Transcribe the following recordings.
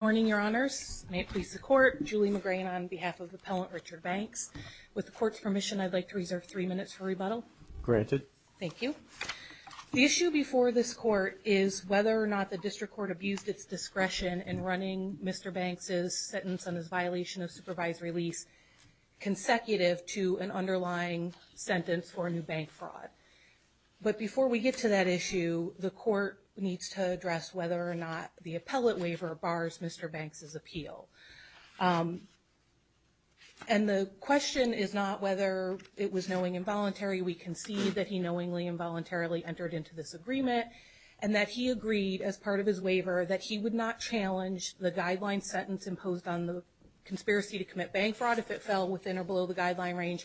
Morning, Your Honors. May it please the Court, Julie McGrane on behalf of Appellant Richard Banks. With the Court's permission, I'd like to reserve three minutes for rebuttal. Granted. Thank you. The issue before this Court is whether or not the District Court abused its discretion in running Mr. Banks' sentence on his violation of supervisory lease consecutive to an underlying sentence for a new bank fraud. But before we get to that issue, the Court needs to address whether or not the appellate waiver bars Mr. Banks' appeal. And the question is not whether it was knowingly involuntary. We concede that he knowingly involuntarily entered into this agreement and that he agreed as part of his waiver that he would not challenge the guideline sentence imposed on the conspiracy to commit bank fraud if it fell within or below the guideline range,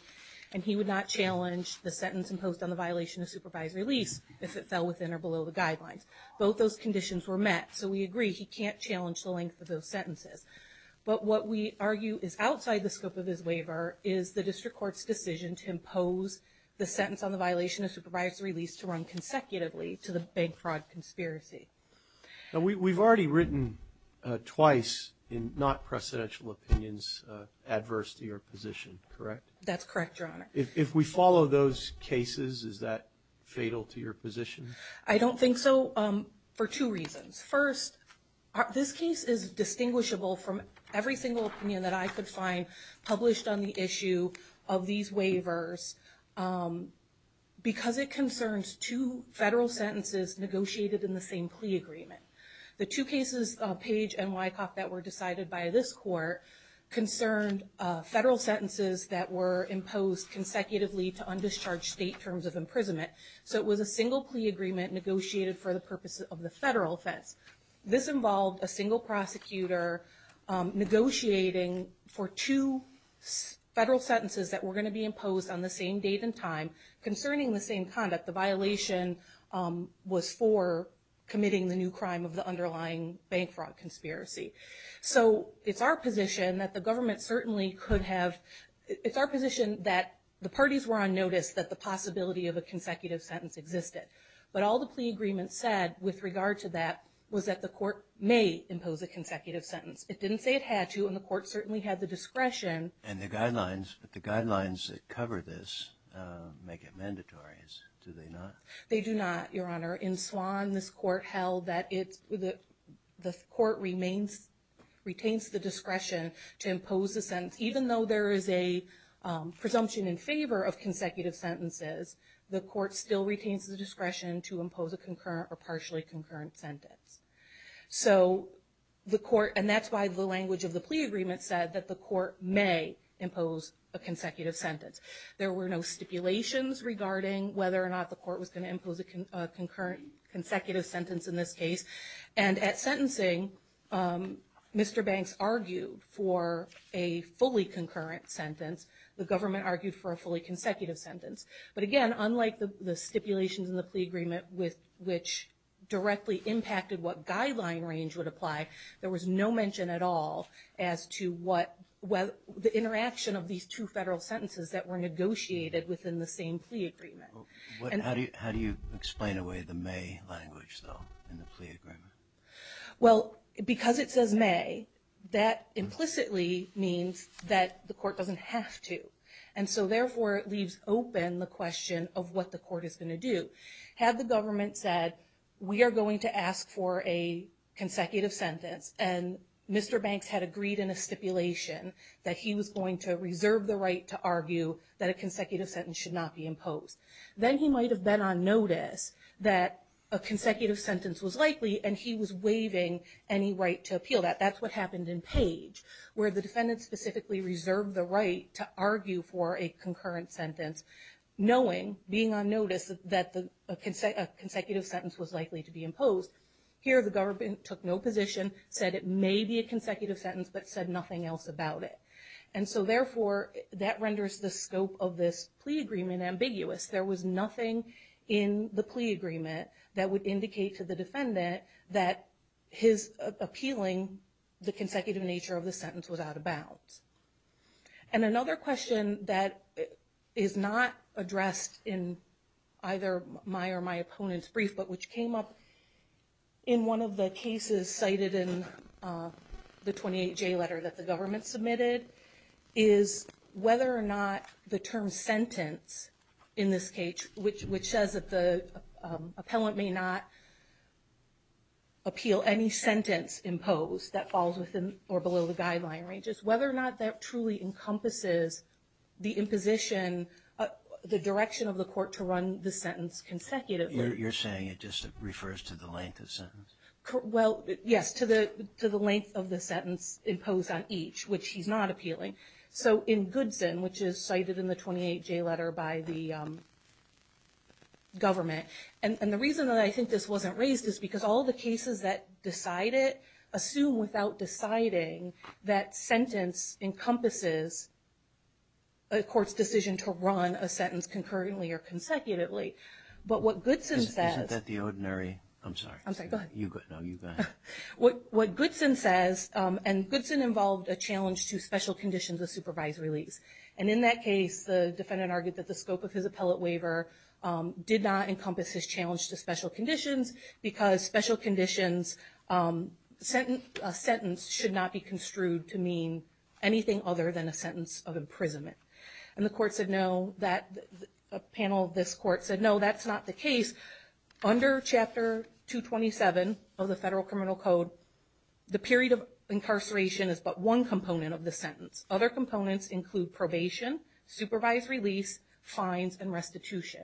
and he would not challenge the sentence imposed on the violation of supervisory lease if it fell within or below the guidelines. Both those conditions were met, so we agree he can't challenge the length of those sentences. But what we argue is outside the scope of his waiver is the District Court's decision to impose the sentence on the violation of supervisory lease to run consecutively to the bank fraud conspiracy. Now, we've already written twice in not-presidential opinions adverse to your position, correct? That's correct, Your Honor. If we follow those cases, is that fatal to your position? I don't think so for two reasons. First, this case is distinguishable from every single opinion that I could find published on the issue of these waivers because it concerns two federal sentences negotiated in the same plea agreement. The two cases, Page and Wycock, that were decided by this Court, concerned federal sentences that were imposed consecutively to undischarged state terms of imprisonment. So it was a single plea agreement negotiated for the purposes of the federal offense. This involved a single prosecutor negotiating for two federal sentences that were going to be imposed on the same date and time concerning the same conduct. The violation was for committing the new crime of the underlying bank fraud conspiracy. So it's our position that the government certainly could have, it's our position that the parties were on notice that the possibility of a consecutive sentence existed. But all the plea agreement said with regard to that was that the Court may impose a consecutive sentence. It didn't say it had to and the Court certainly had the discretion. And the guidelines that cover this make it mandatory, do they not? They do not, Your Honor. In Swann, this Court held that the Court retains the discretion to impose a sentence even though there is a presumption in favor of consecutive sentences, the Court still retains the discretion to impose a concurrent or partially concurrent sentence. So the Court, and that's why the language of the plea agreement said that the Court may impose a consecutive sentence. There were no stipulations regarding whether or not the Court was going to impose a concurrent, consecutive sentence in this case. And at sentencing, Mr. Banks argued for a fully concurrent sentence. The government argued for a fully consecutive sentence. But again, unlike the stipulations in the plea agreement with which directly impacted what guideline range would apply, there was no mention at all as to the interaction of these two federal sentences that were negotiated within the same plea agreement. How do you explain away the may language, though, in the plea agreement? Well, because it says may, that implicitly means that the Court doesn't have to. And so therefore, it leaves open the question of what the Court is going to do. Had the government said, we are going to ask for a consecutive sentence, and Mr. Banks had agreed in a stipulation that he was going to reserve the right to argue that a consecutive sentence should not be imposed, then he might have been on notice that a consecutive sentence was likely, and he was waiving any right to appeal that. That's what happened in Page, where the defendant specifically reserved the right to argue for a concurrent sentence, knowing, being on notice that a consecutive sentence was likely to be imposed. Here, the government took no position, said it may be a consecutive sentence, but said nothing else about it. And so therefore, that renders the scope of this plea agreement ambiguous. There was nothing in the plea agreement that would indicate to the defendant that his appealing the consecutive nature of the sentence was out of bounds. And another question that is not addressed in either my or my opponent's brief, but which came up in one of the cases cited in the 28J letter that the government submitted, is whether or not the term sentence in this case, which says that the appellant may not appeal any sentence imposed that falls within or below the guideline ranges, whether or not that truly encompasses the imposition, the direction of the court to run the sentence consecutively. You're saying it just refers to the length of sentence? Well, yes, to the length of the sentence imposed on each, which he's not appealing. So in Goodson, which is cited in the 28J letter by the government, and the reason that I think this wasn't raised is because all the cases that decide it assume without deciding that sentence encompasses a court's decision to run a sentence concurrently or consecutively. But what Goodson says... Isn't that the ordinary? I'm sorry. I'm sorry, go ahead. You go, no, you go ahead. What Goodson says, and Goodson involved a challenge to special conditions of supervised release. And in that case, the defendant argued that the scope of his appellate waiver did not encompass his challenge to special conditions, because special conditions sentence should not be construed to mean anything other than a sentence of imprisonment. And the court said, no, that panel, this court said, no, that's not the case. Under Chapter 227 of the Federal Criminal Code, the period of incarceration is but one component of the sentence. Other components include probation, supervised release, fines, and restitution.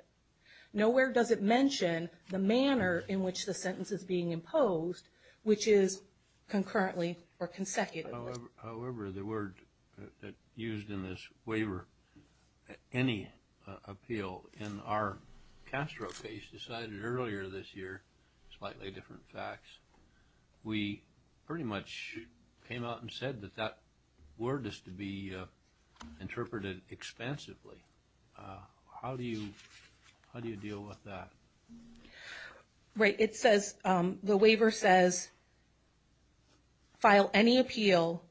Nowhere does it mention the manner in which the sentence is being imposed, which is concurrently or consecutively. However, the word that used in this waiver, any appeal in our Castro case decided earlier this year, slightly different facts. We pretty much came out and said that that word is to be interpreted expansively. How do you deal with that? Right. It says, the waiver says, file any appeal.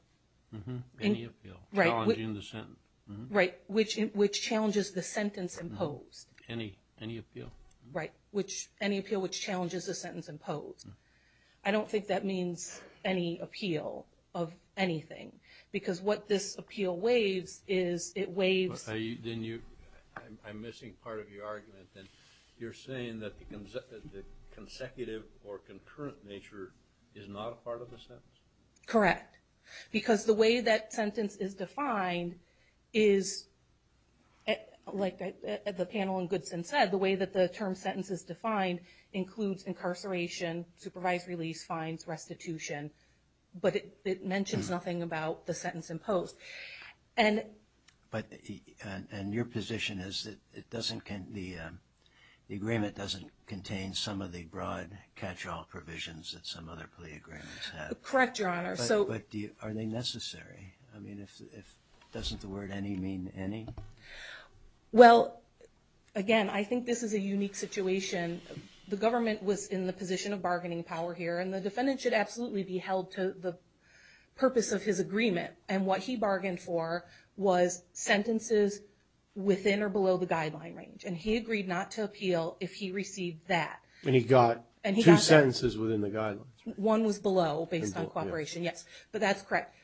Any appeal, challenging the sentence. Right. Which challenges the sentence imposed. Any appeal. Right. Which any appeal, which challenges the sentence imposed. I don't think that means any appeal of anything, because what this appeal waives is it waives. Then you, I'm missing part of your argument. And you're saying that the consecutive or concurrent nature is not a part of the sentence? Correct. Because the way that sentence is defined is, like the panel in Goodson said, the way that the term sentence is defined includes incarceration, supervised release, fines, restitution. But it mentions nothing about the sentence imposed. And. But, and your position is that it doesn't, the agreement doesn't contain some of the broad catch-all provisions that some other plea agreements have. Correct, Your Honor. So. But are they necessary? I mean, if, doesn't the word any mean any? Well, again, I think this is a unique situation. The government was in the position of bargaining power here, and the defendant should absolutely be held to the purpose of his agreement. And what he bargained for was sentences within or below the guideline range. And he agreed not to appeal if he received that. And he got two sentences within the guidelines. One was below, based on cooperation, yes. But that's correct.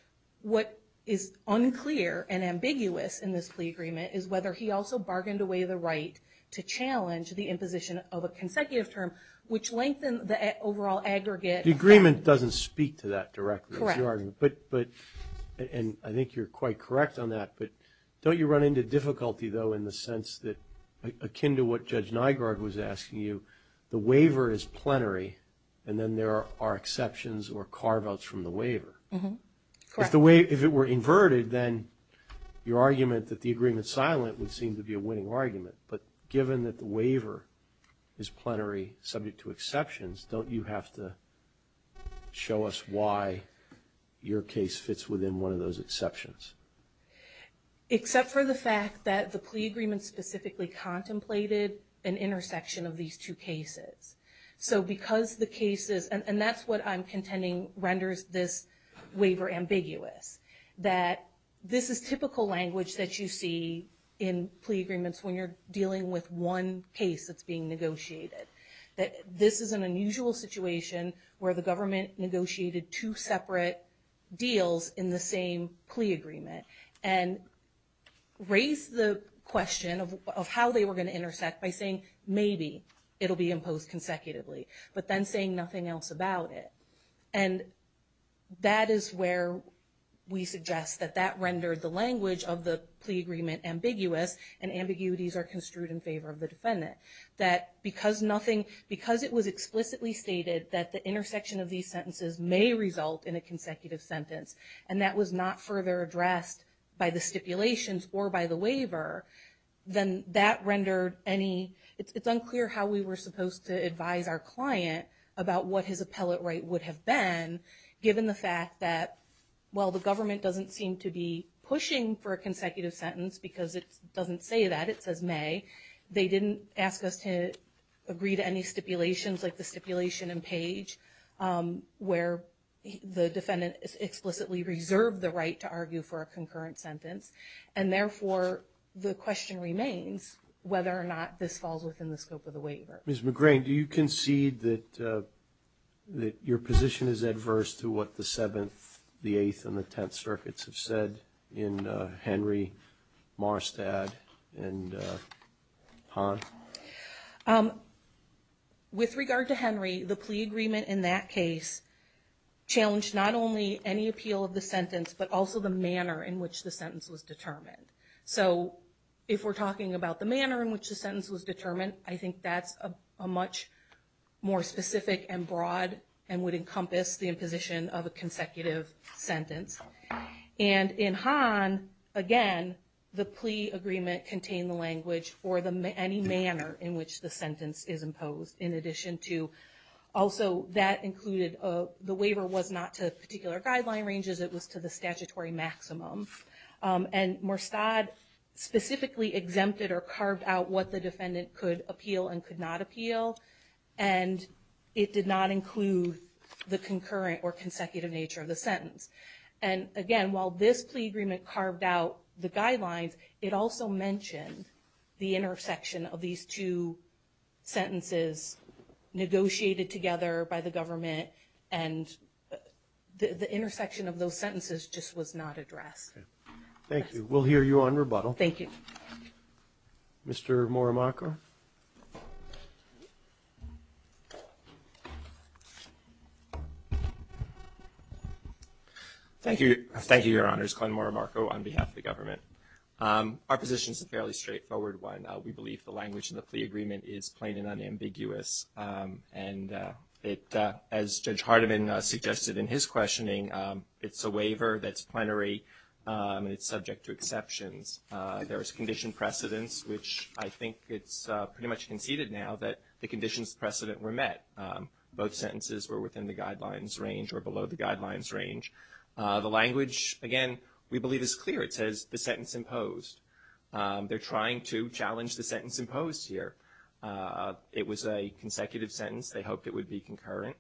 What is unclear and ambiguous in this plea agreement is whether he also bargained away the right to challenge the imposition of a consecutive term, which lengthened the overall aggregate. The agreement doesn't speak to that directly. Correct. But, but, and I think you're quite correct on that. But don't you run into difficulty, though, in the sense that, akin to what Judge Nygaard was asking you, the waiver is plenary, and then there are exceptions or carve-outs from the waiver. Correct. If it were inverted, then your argument that the agreement's silent would seem to be a winning argument. But given that the waiver is plenary, subject to exceptions, don't you have to show us why your case fits within one of those exceptions? Except for the fact that the plea agreement specifically contemplated an intersection of these two cases. So because the cases, and that's what I'm contending renders this waiver ambiguous. That this is typical language that you see in plea agreements when you're dealing with one case that's being negotiated. That this is an unusual situation where the government negotiated two separate deals in the same plea agreement, and raised the question of how they were going to intersect by saying maybe it'll be imposed consecutively, but then saying nothing else about it. And that is where we suggest that that rendered the language of the plea agreement ambiguous, and ambiguities are construed in favor of the defendant. That because nothing, because it was explicitly stated that the intersection of these sentences may result in a consecutive sentence, and that was not further addressed by the stipulations or by the waiver, then that rendered any, it's unclear how we were supposed to advise our client about what his appellate right would have been given the fact that while the government doesn't seem to be pushing for a consecutive sentence because it doesn't say that, it says may. They didn't ask us to agree to any stipulations like the stipulation in page where the defendant explicitly reserved the right to argue for a concurrent sentence. And therefore, the question remains whether or not this falls within the scope of the waiver. Ms. McGrain, do you concede that your position is adverse to what the 7th, the 8th, and the 10th circuits have said in Henry, Morristad, and Hahn? With regard to Henry, the plea agreement in that case challenged not only any appeal of the sentence, but also the manner in which the sentence was determined. So if we're talking about the manner in which the sentence was determined, I think that's a much more specific and broad and would encompass the imposition of a consecutive sentence. And in Hahn, again, the plea agreement contained the language for any manner in which the sentence is imposed in addition to also that included the waiver was not to particular guideline ranges, it was to the statutory maximum. And Morristad specifically exempted or carved out what the defendant could appeal and could not appeal. And it did not include the concurrent or consecutive nature of the sentence. And again, while this plea agreement carved out the guidelines, it also mentioned the intersection of these two sentences negotiated together by the government. And the intersection of those sentences just was not addressed. Thank you. We'll hear you on rebuttal. Thank you. Mr. Morimako? Thank you. Thank you, Your Honors. Glenn Morimako on behalf of the government. Our position is a fairly straightforward one. We believe the language in the plea agreement is plain and unambiguous. And as Judge Hardiman suggested in his questioning, it's a waiver that's plenary. And it's subject to exceptions. There is condition precedence, which I think it's pretty much conceded now that the conditions precedent were met. Both sentences were within the guidelines range or below the guidelines range. The language, again, we believe is clear. It says the sentence imposed. They're trying to challenge the sentence imposed here. It was a consecutive sentence. They hoped it would be concurrent.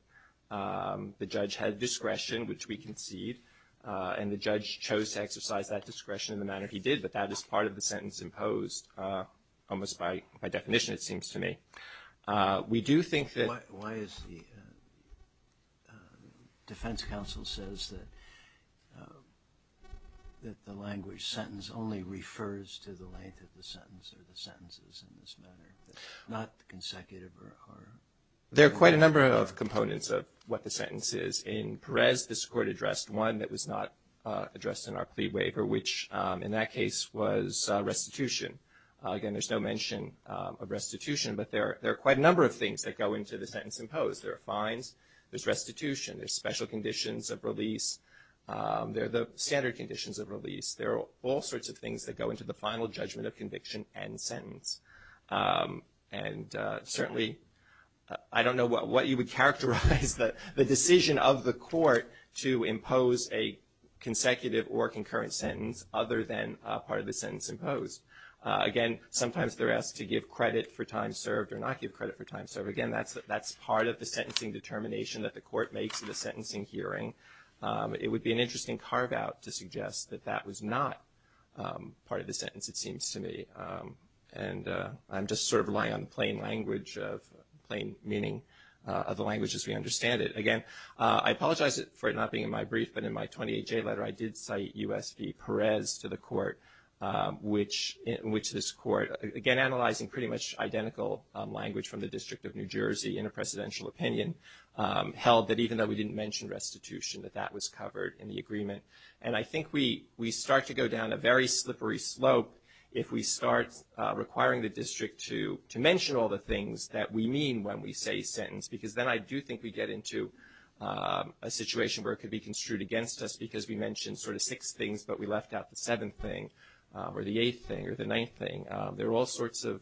The judge had discretion, which we concede. And the judge chose to exercise that discretion in the manner he did. But that is part of the sentence imposed. Almost by definition, it seems to me. We do think that- Why is the defense counsel says that the language sentence only refers to the length of the sentence or the sentences in this manner, not consecutive or- There are quite a number of components of what the sentence is. In Perez, this court addressed one that was not addressed in our plea waiver, which in that case was restitution. Again, there's no mention of restitution. But there are quite a number of things that go into the sentence imposed. There are fines. There's restitution. There's special conditions of release. There are the standard conditions of release. There are all sorts of things that go into the final judgment of conviction and sentence. And certainly, I don't know what you would characterize the decision of the court to impose a consecutive or concurrent sentence other than part of the sentence imposed. Again, sometimes they're asked to give credit for time served or not give credit for time served. Again, that's part of the sentencing determination that the court makes in the sentencing hearing. It would be an interesting carve out to suggest that that was not part of the sentence, it seems to me. And I'm just sort of relying on plain language of plain meaning of the language as we understand it. Again, I apologize for it not being in my brief. But in my 28J letter, I did cite U.S. v. Perez to the court, which this court, again, analyzing pretty much identical language from the District of New Jersey in a presidential opinion, held that even though we didn't mention restitution, that that was covered in the agreement. And I think we start to go down a very slippery slope if we start requiring the district to mention all the things that we mean when we say sentence. Because then I do think we get into a situation where it could be construed against us because we mentioned sort of six things, but we left out the seventh thing or the eighth thing or the ninth thing. There are all sorts of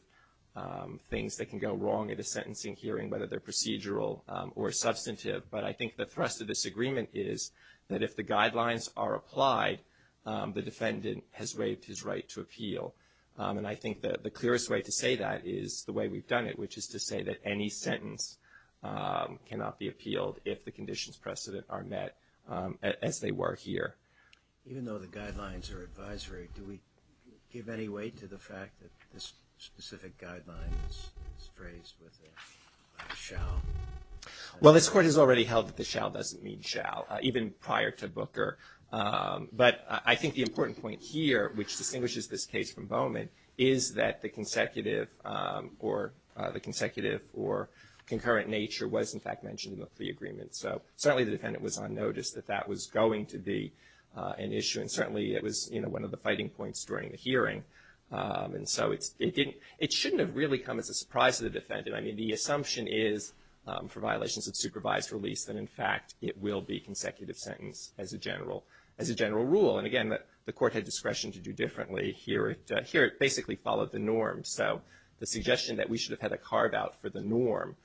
things that can go wrong at a sentencing hearing, whether they're procedural or substantive. But I think the thrust of this agreement is that if the guidelines are applied, the defendant has waived his right to appeal. And I think that the clearest way to say that is the way we've done it, which is to say that any sentence cannot be appealed if the conditions precedent are met as they were here. Even though the guidelines are advisory, do we give any weight to the fact that this specific guideline is phrased with a shout? Well, this Court has already held that the shout doesn't mean shall, even prior to Booker. But I think the important point here, which distinguishes this case from Bowman, is that the consecutive or the consecutive or concurrent nature was in fact mentioned in the plea agreement. So certainly the defendant was on notice that that was going to be an issue. And certainly it was one of the fighting points during the hearing. And so it didn't, it shouldn't have really come as a surprise to the defendant. The assumption is, for violations of supervised release, that in fact it will be consecutive sentence as a general rule. And again, the Court had discretion to do differently. Here it basically followed the norm. So the suggestion that we should have had a carve-out for the norm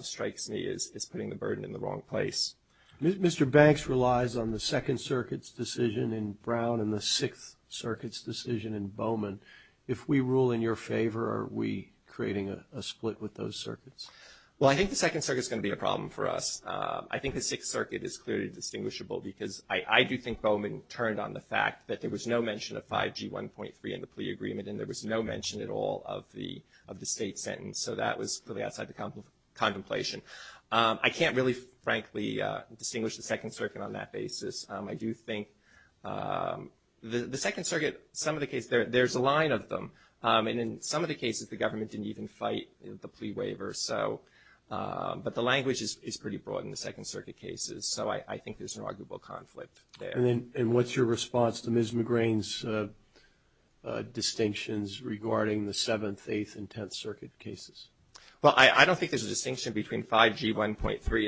strikes me as putting the burden in the wrong place. Mr. Banks relies on the Second Circuit's decision in Brown and the Sixth Circuit's decision in Bowman. If we rule in your favor, are we creating a split with those circuits? Well, I think the Second Circuit's going to be a problem for us. I think the Sixth Circuit is clearly distinguishable because I do think Bowman turned on the fact that there was no mention of 5G 1.3 in the plea agreement and there was no mention at all of the state sentence. So that was clearly outside the contemplation. I can't really, frankly, distinguish the Second Circuit on that basis. I do think the Second Circuit, some of the cases, there's a line of them. And in some of the cases, the government didn't even fight the plea waiver. But the language is pretty broad in the Second Circuit cases. So I think there's an arguable conflict there. And what's your response to Ms. McGrain's distinctions regarding the Seventh, Eighth, and Tenth Circuit cases? Well, I don't think there's a distinction between 5G 1.3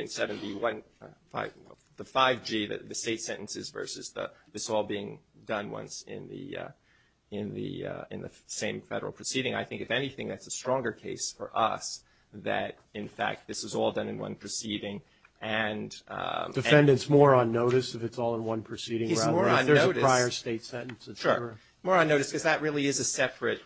and 7B, the 5G, the state sentences versus this all being done once in the same federal proceeding. I think, if anything, that's a stronger case for us that, in fact, this was all done in one proceeding. Defendant's more on notice if it's all in one proceeding rather than if there's a prior state sentence. Sure. More on notice because that really is a separate,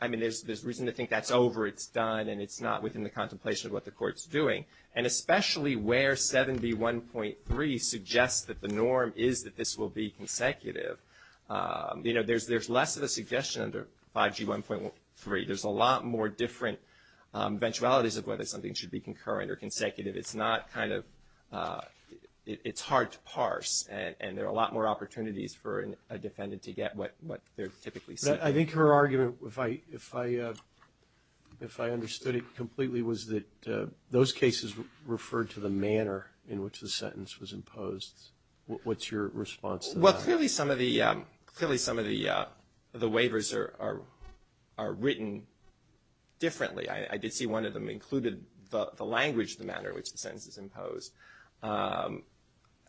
I mean, there's reason to think that's over, it's done, and it's not within the contemplation of what the court's doing. And especially where 7B 1.3 suggests that the norm is that this will be consecutive, you know, there's less of a suggestion under 5G 1.3. There's a lot more different eventualities of whether something should be concurrent or consecutive. It's not kind of – it's hard to parse. And there are a lot more opportunities for a defendant to get what they're typically seeking. I think her argument, if I understood it completely, was that those cases referred to the manner in which the sentence was imposed. What's your response to that? Well, clearly some of the waivers are written differently. I did see one of them included the language, the manner in which the sentence is imposed.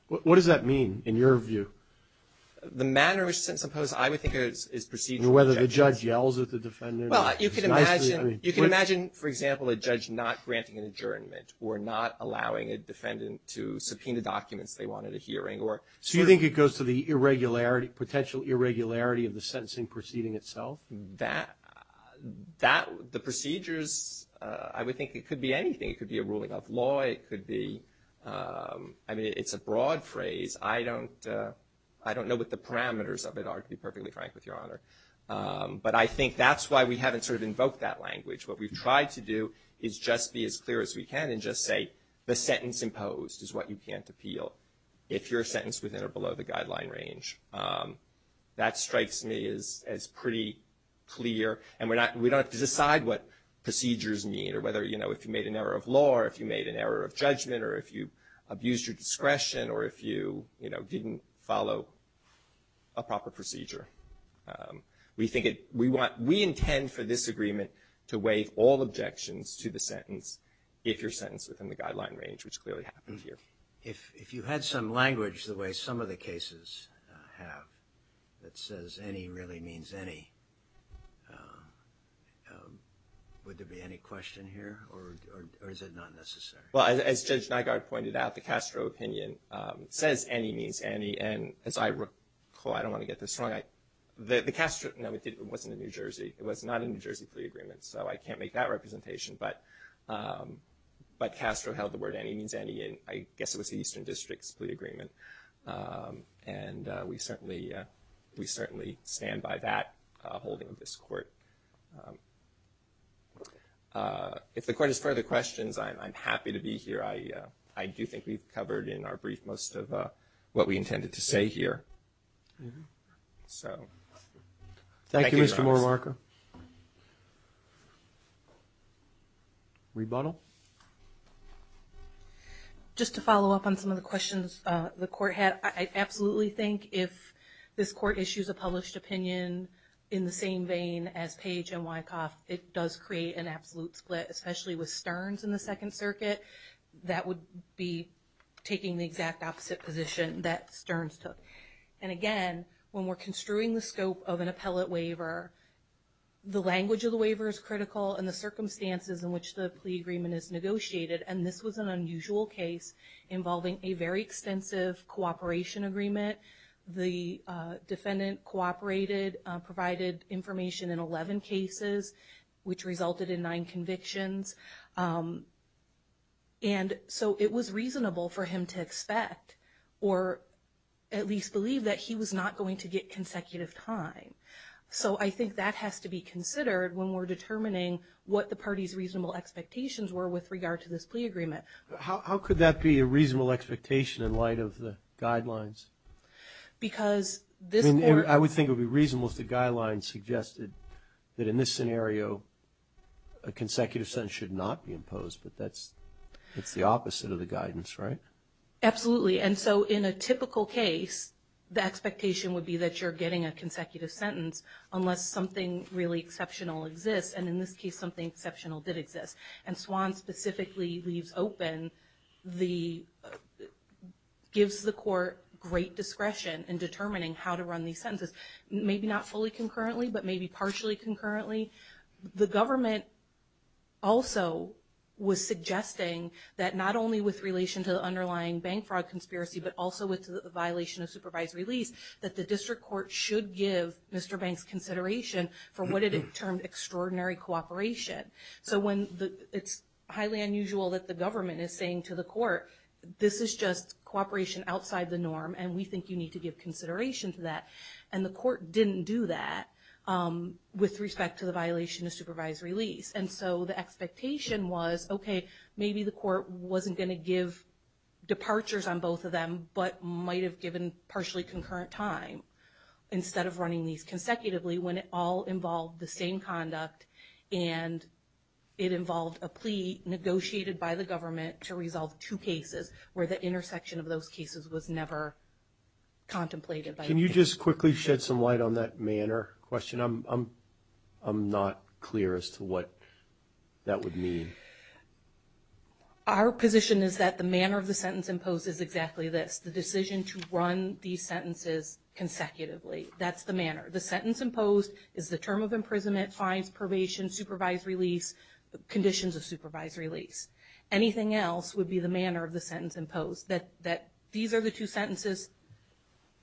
What does that mean in your view? The manner in which the sentence is imposed, I would think, is procedural. Whether the judge yells at the defendant. Well, you can imagine – you can imagine, for example, a judge not granting an adjournment or not allowing a defendant to subpoena documents they wanted a hearing or – So you think it goes to the irregularity – potential irregularity of the sentencing proceeding itself? That – the procedures, I would think it could be anything. It could be a ruling of law. It could be – I mean, it's a broad phrase. I don't know what the parameters of it are, to be perfectly frank with Your Honor. But I think that's why we haven't sort of invoked that language. What we've tried to do is just be as clear as we can and just say the sentence imposed is what you can't appeal if you're sentenced within or below the guideline range. That strikes me as pretty clear. And we're not – we don't have to decide what procedures need or whether, you know, if you made an error of law or if you made an error of judgment or if you abused your discretion or if you, you know, didn't follow a proper procedure. We think it – we want – we intend for this agreement to waive all objections to the sentence if you're sentenced within the guideline range, which clearly happened here. If you had some language the way some of the cases have that says any really means any, would there be any question here? Or is it not necessary? Well, as Judge Nygaard pointed out, the Castro opinion says any means any. And as I recall – I don't want to get this wrong – the Castro – no, it wasn't in New Jersey. It was not in the New Jersey plea agreement. So I can't make that representation. But Castro held the word any means any. And I guess it was the Eastern District's plea agreement. And we certainly stand by that holding of this court. If the court has further questions, I'm happy to be here. I do think we've covered in our brief most of what we intended to say here. So, thank you, Judge. Thank you, Mr. Mormarker. Rebuttal? Just to follow up on some of the questions the court had, I absolutely think if this court issues a published opinion in the same vein as Page and Wyckoff, it does create an absolute split, especially with Stearns in the Second Circuit. That would be taking the exact opposite position that Stearns took. And again, when we're construing the scope of an appellate waiver, the language of the waiver is critical and the circumstances in which the plea agreement is negotiated. And this was an unusual case involving a very extensive cooperation agreement. The defendant cooperated, provided information in 11 cases, which resulted in 9 convictions. And so, it was reasonable for him to expect or at least believe that he was not going to get consecutive time. So, I think that has to be considered when we're determining what the party's reasonable expectations were with regard to this plea agreement. How could that be a reasonable expectation in light of the guidelines? Because this court... I would think it would be reasonable if the guidelines suggested that in this scenario, a consecutive sentence should not be imposed. But that's the opposite of the guidance, right? Absolutely. And so, in a typical case, the expectation would be that you're getting a consecutive sentence unless something really exceptional exists. And in this case, something exceptional did exist. And Swan specifically leaves open the... gives the court great discretion in determining how to run these sentences. Maybe not fully concurrently, but maybe partially concurrently. The government also was suggesting that not only with relation to the underlying bank fraud conspiracy, but also with the violation of supervised release, that the district court should give Mr. Banks consideration for what it termed extraordinary cooperation. So, when it's highly unusual that the government is saying to the court, this is just cooperation outside the norm, and we think you need to give consideration to that. And the court didn't do that with respect to the violation of supervised release. And so, the expectation was, okay, maybe the court wasn't going to give departures on both of them, but might have given partially concurrent time instead of running these consecutively when it all involved the same conduct. And it involved a plea negotiated by the government to resolve two cases where the intersection of those cases was never contemplated. Can you just quickly shed some light on that manner question? I'm not clear as to what that would mean. Our position is that the manner of the sentence imposed is exactly this, the decision to run these sentences consecutively. That's the manner. The sentence imposed is the term of imprisonment, fines, probation, supervised release, conditions of supervised release. Anything else would be the manner of the sentence imposed, that these are the two sentences,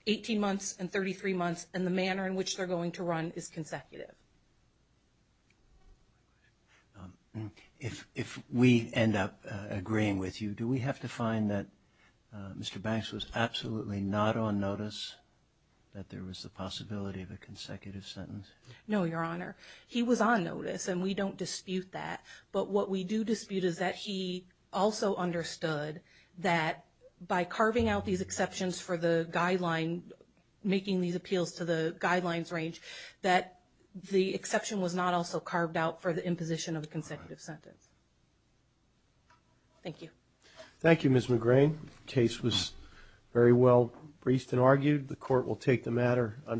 18 months and 33 months, and the manner in which they're going to run is consecutive. If we end up agreeing with you, do we have to find that Mr. Banks was absolutely not on notice that there was the possibility of a consecutive sentence? No, Your Honor. He was on notice, and we don't dispute that. But what we do dispute is that he also understood that by carving out these exceptions for the guideline, making these appeals to the guidelines range, that the exception was not also carved out for the imposition of the consecutive sentence. Thank you. Thank you, Ms. McGrane. The case was very well briefed and argued. The court will take the matter under its own.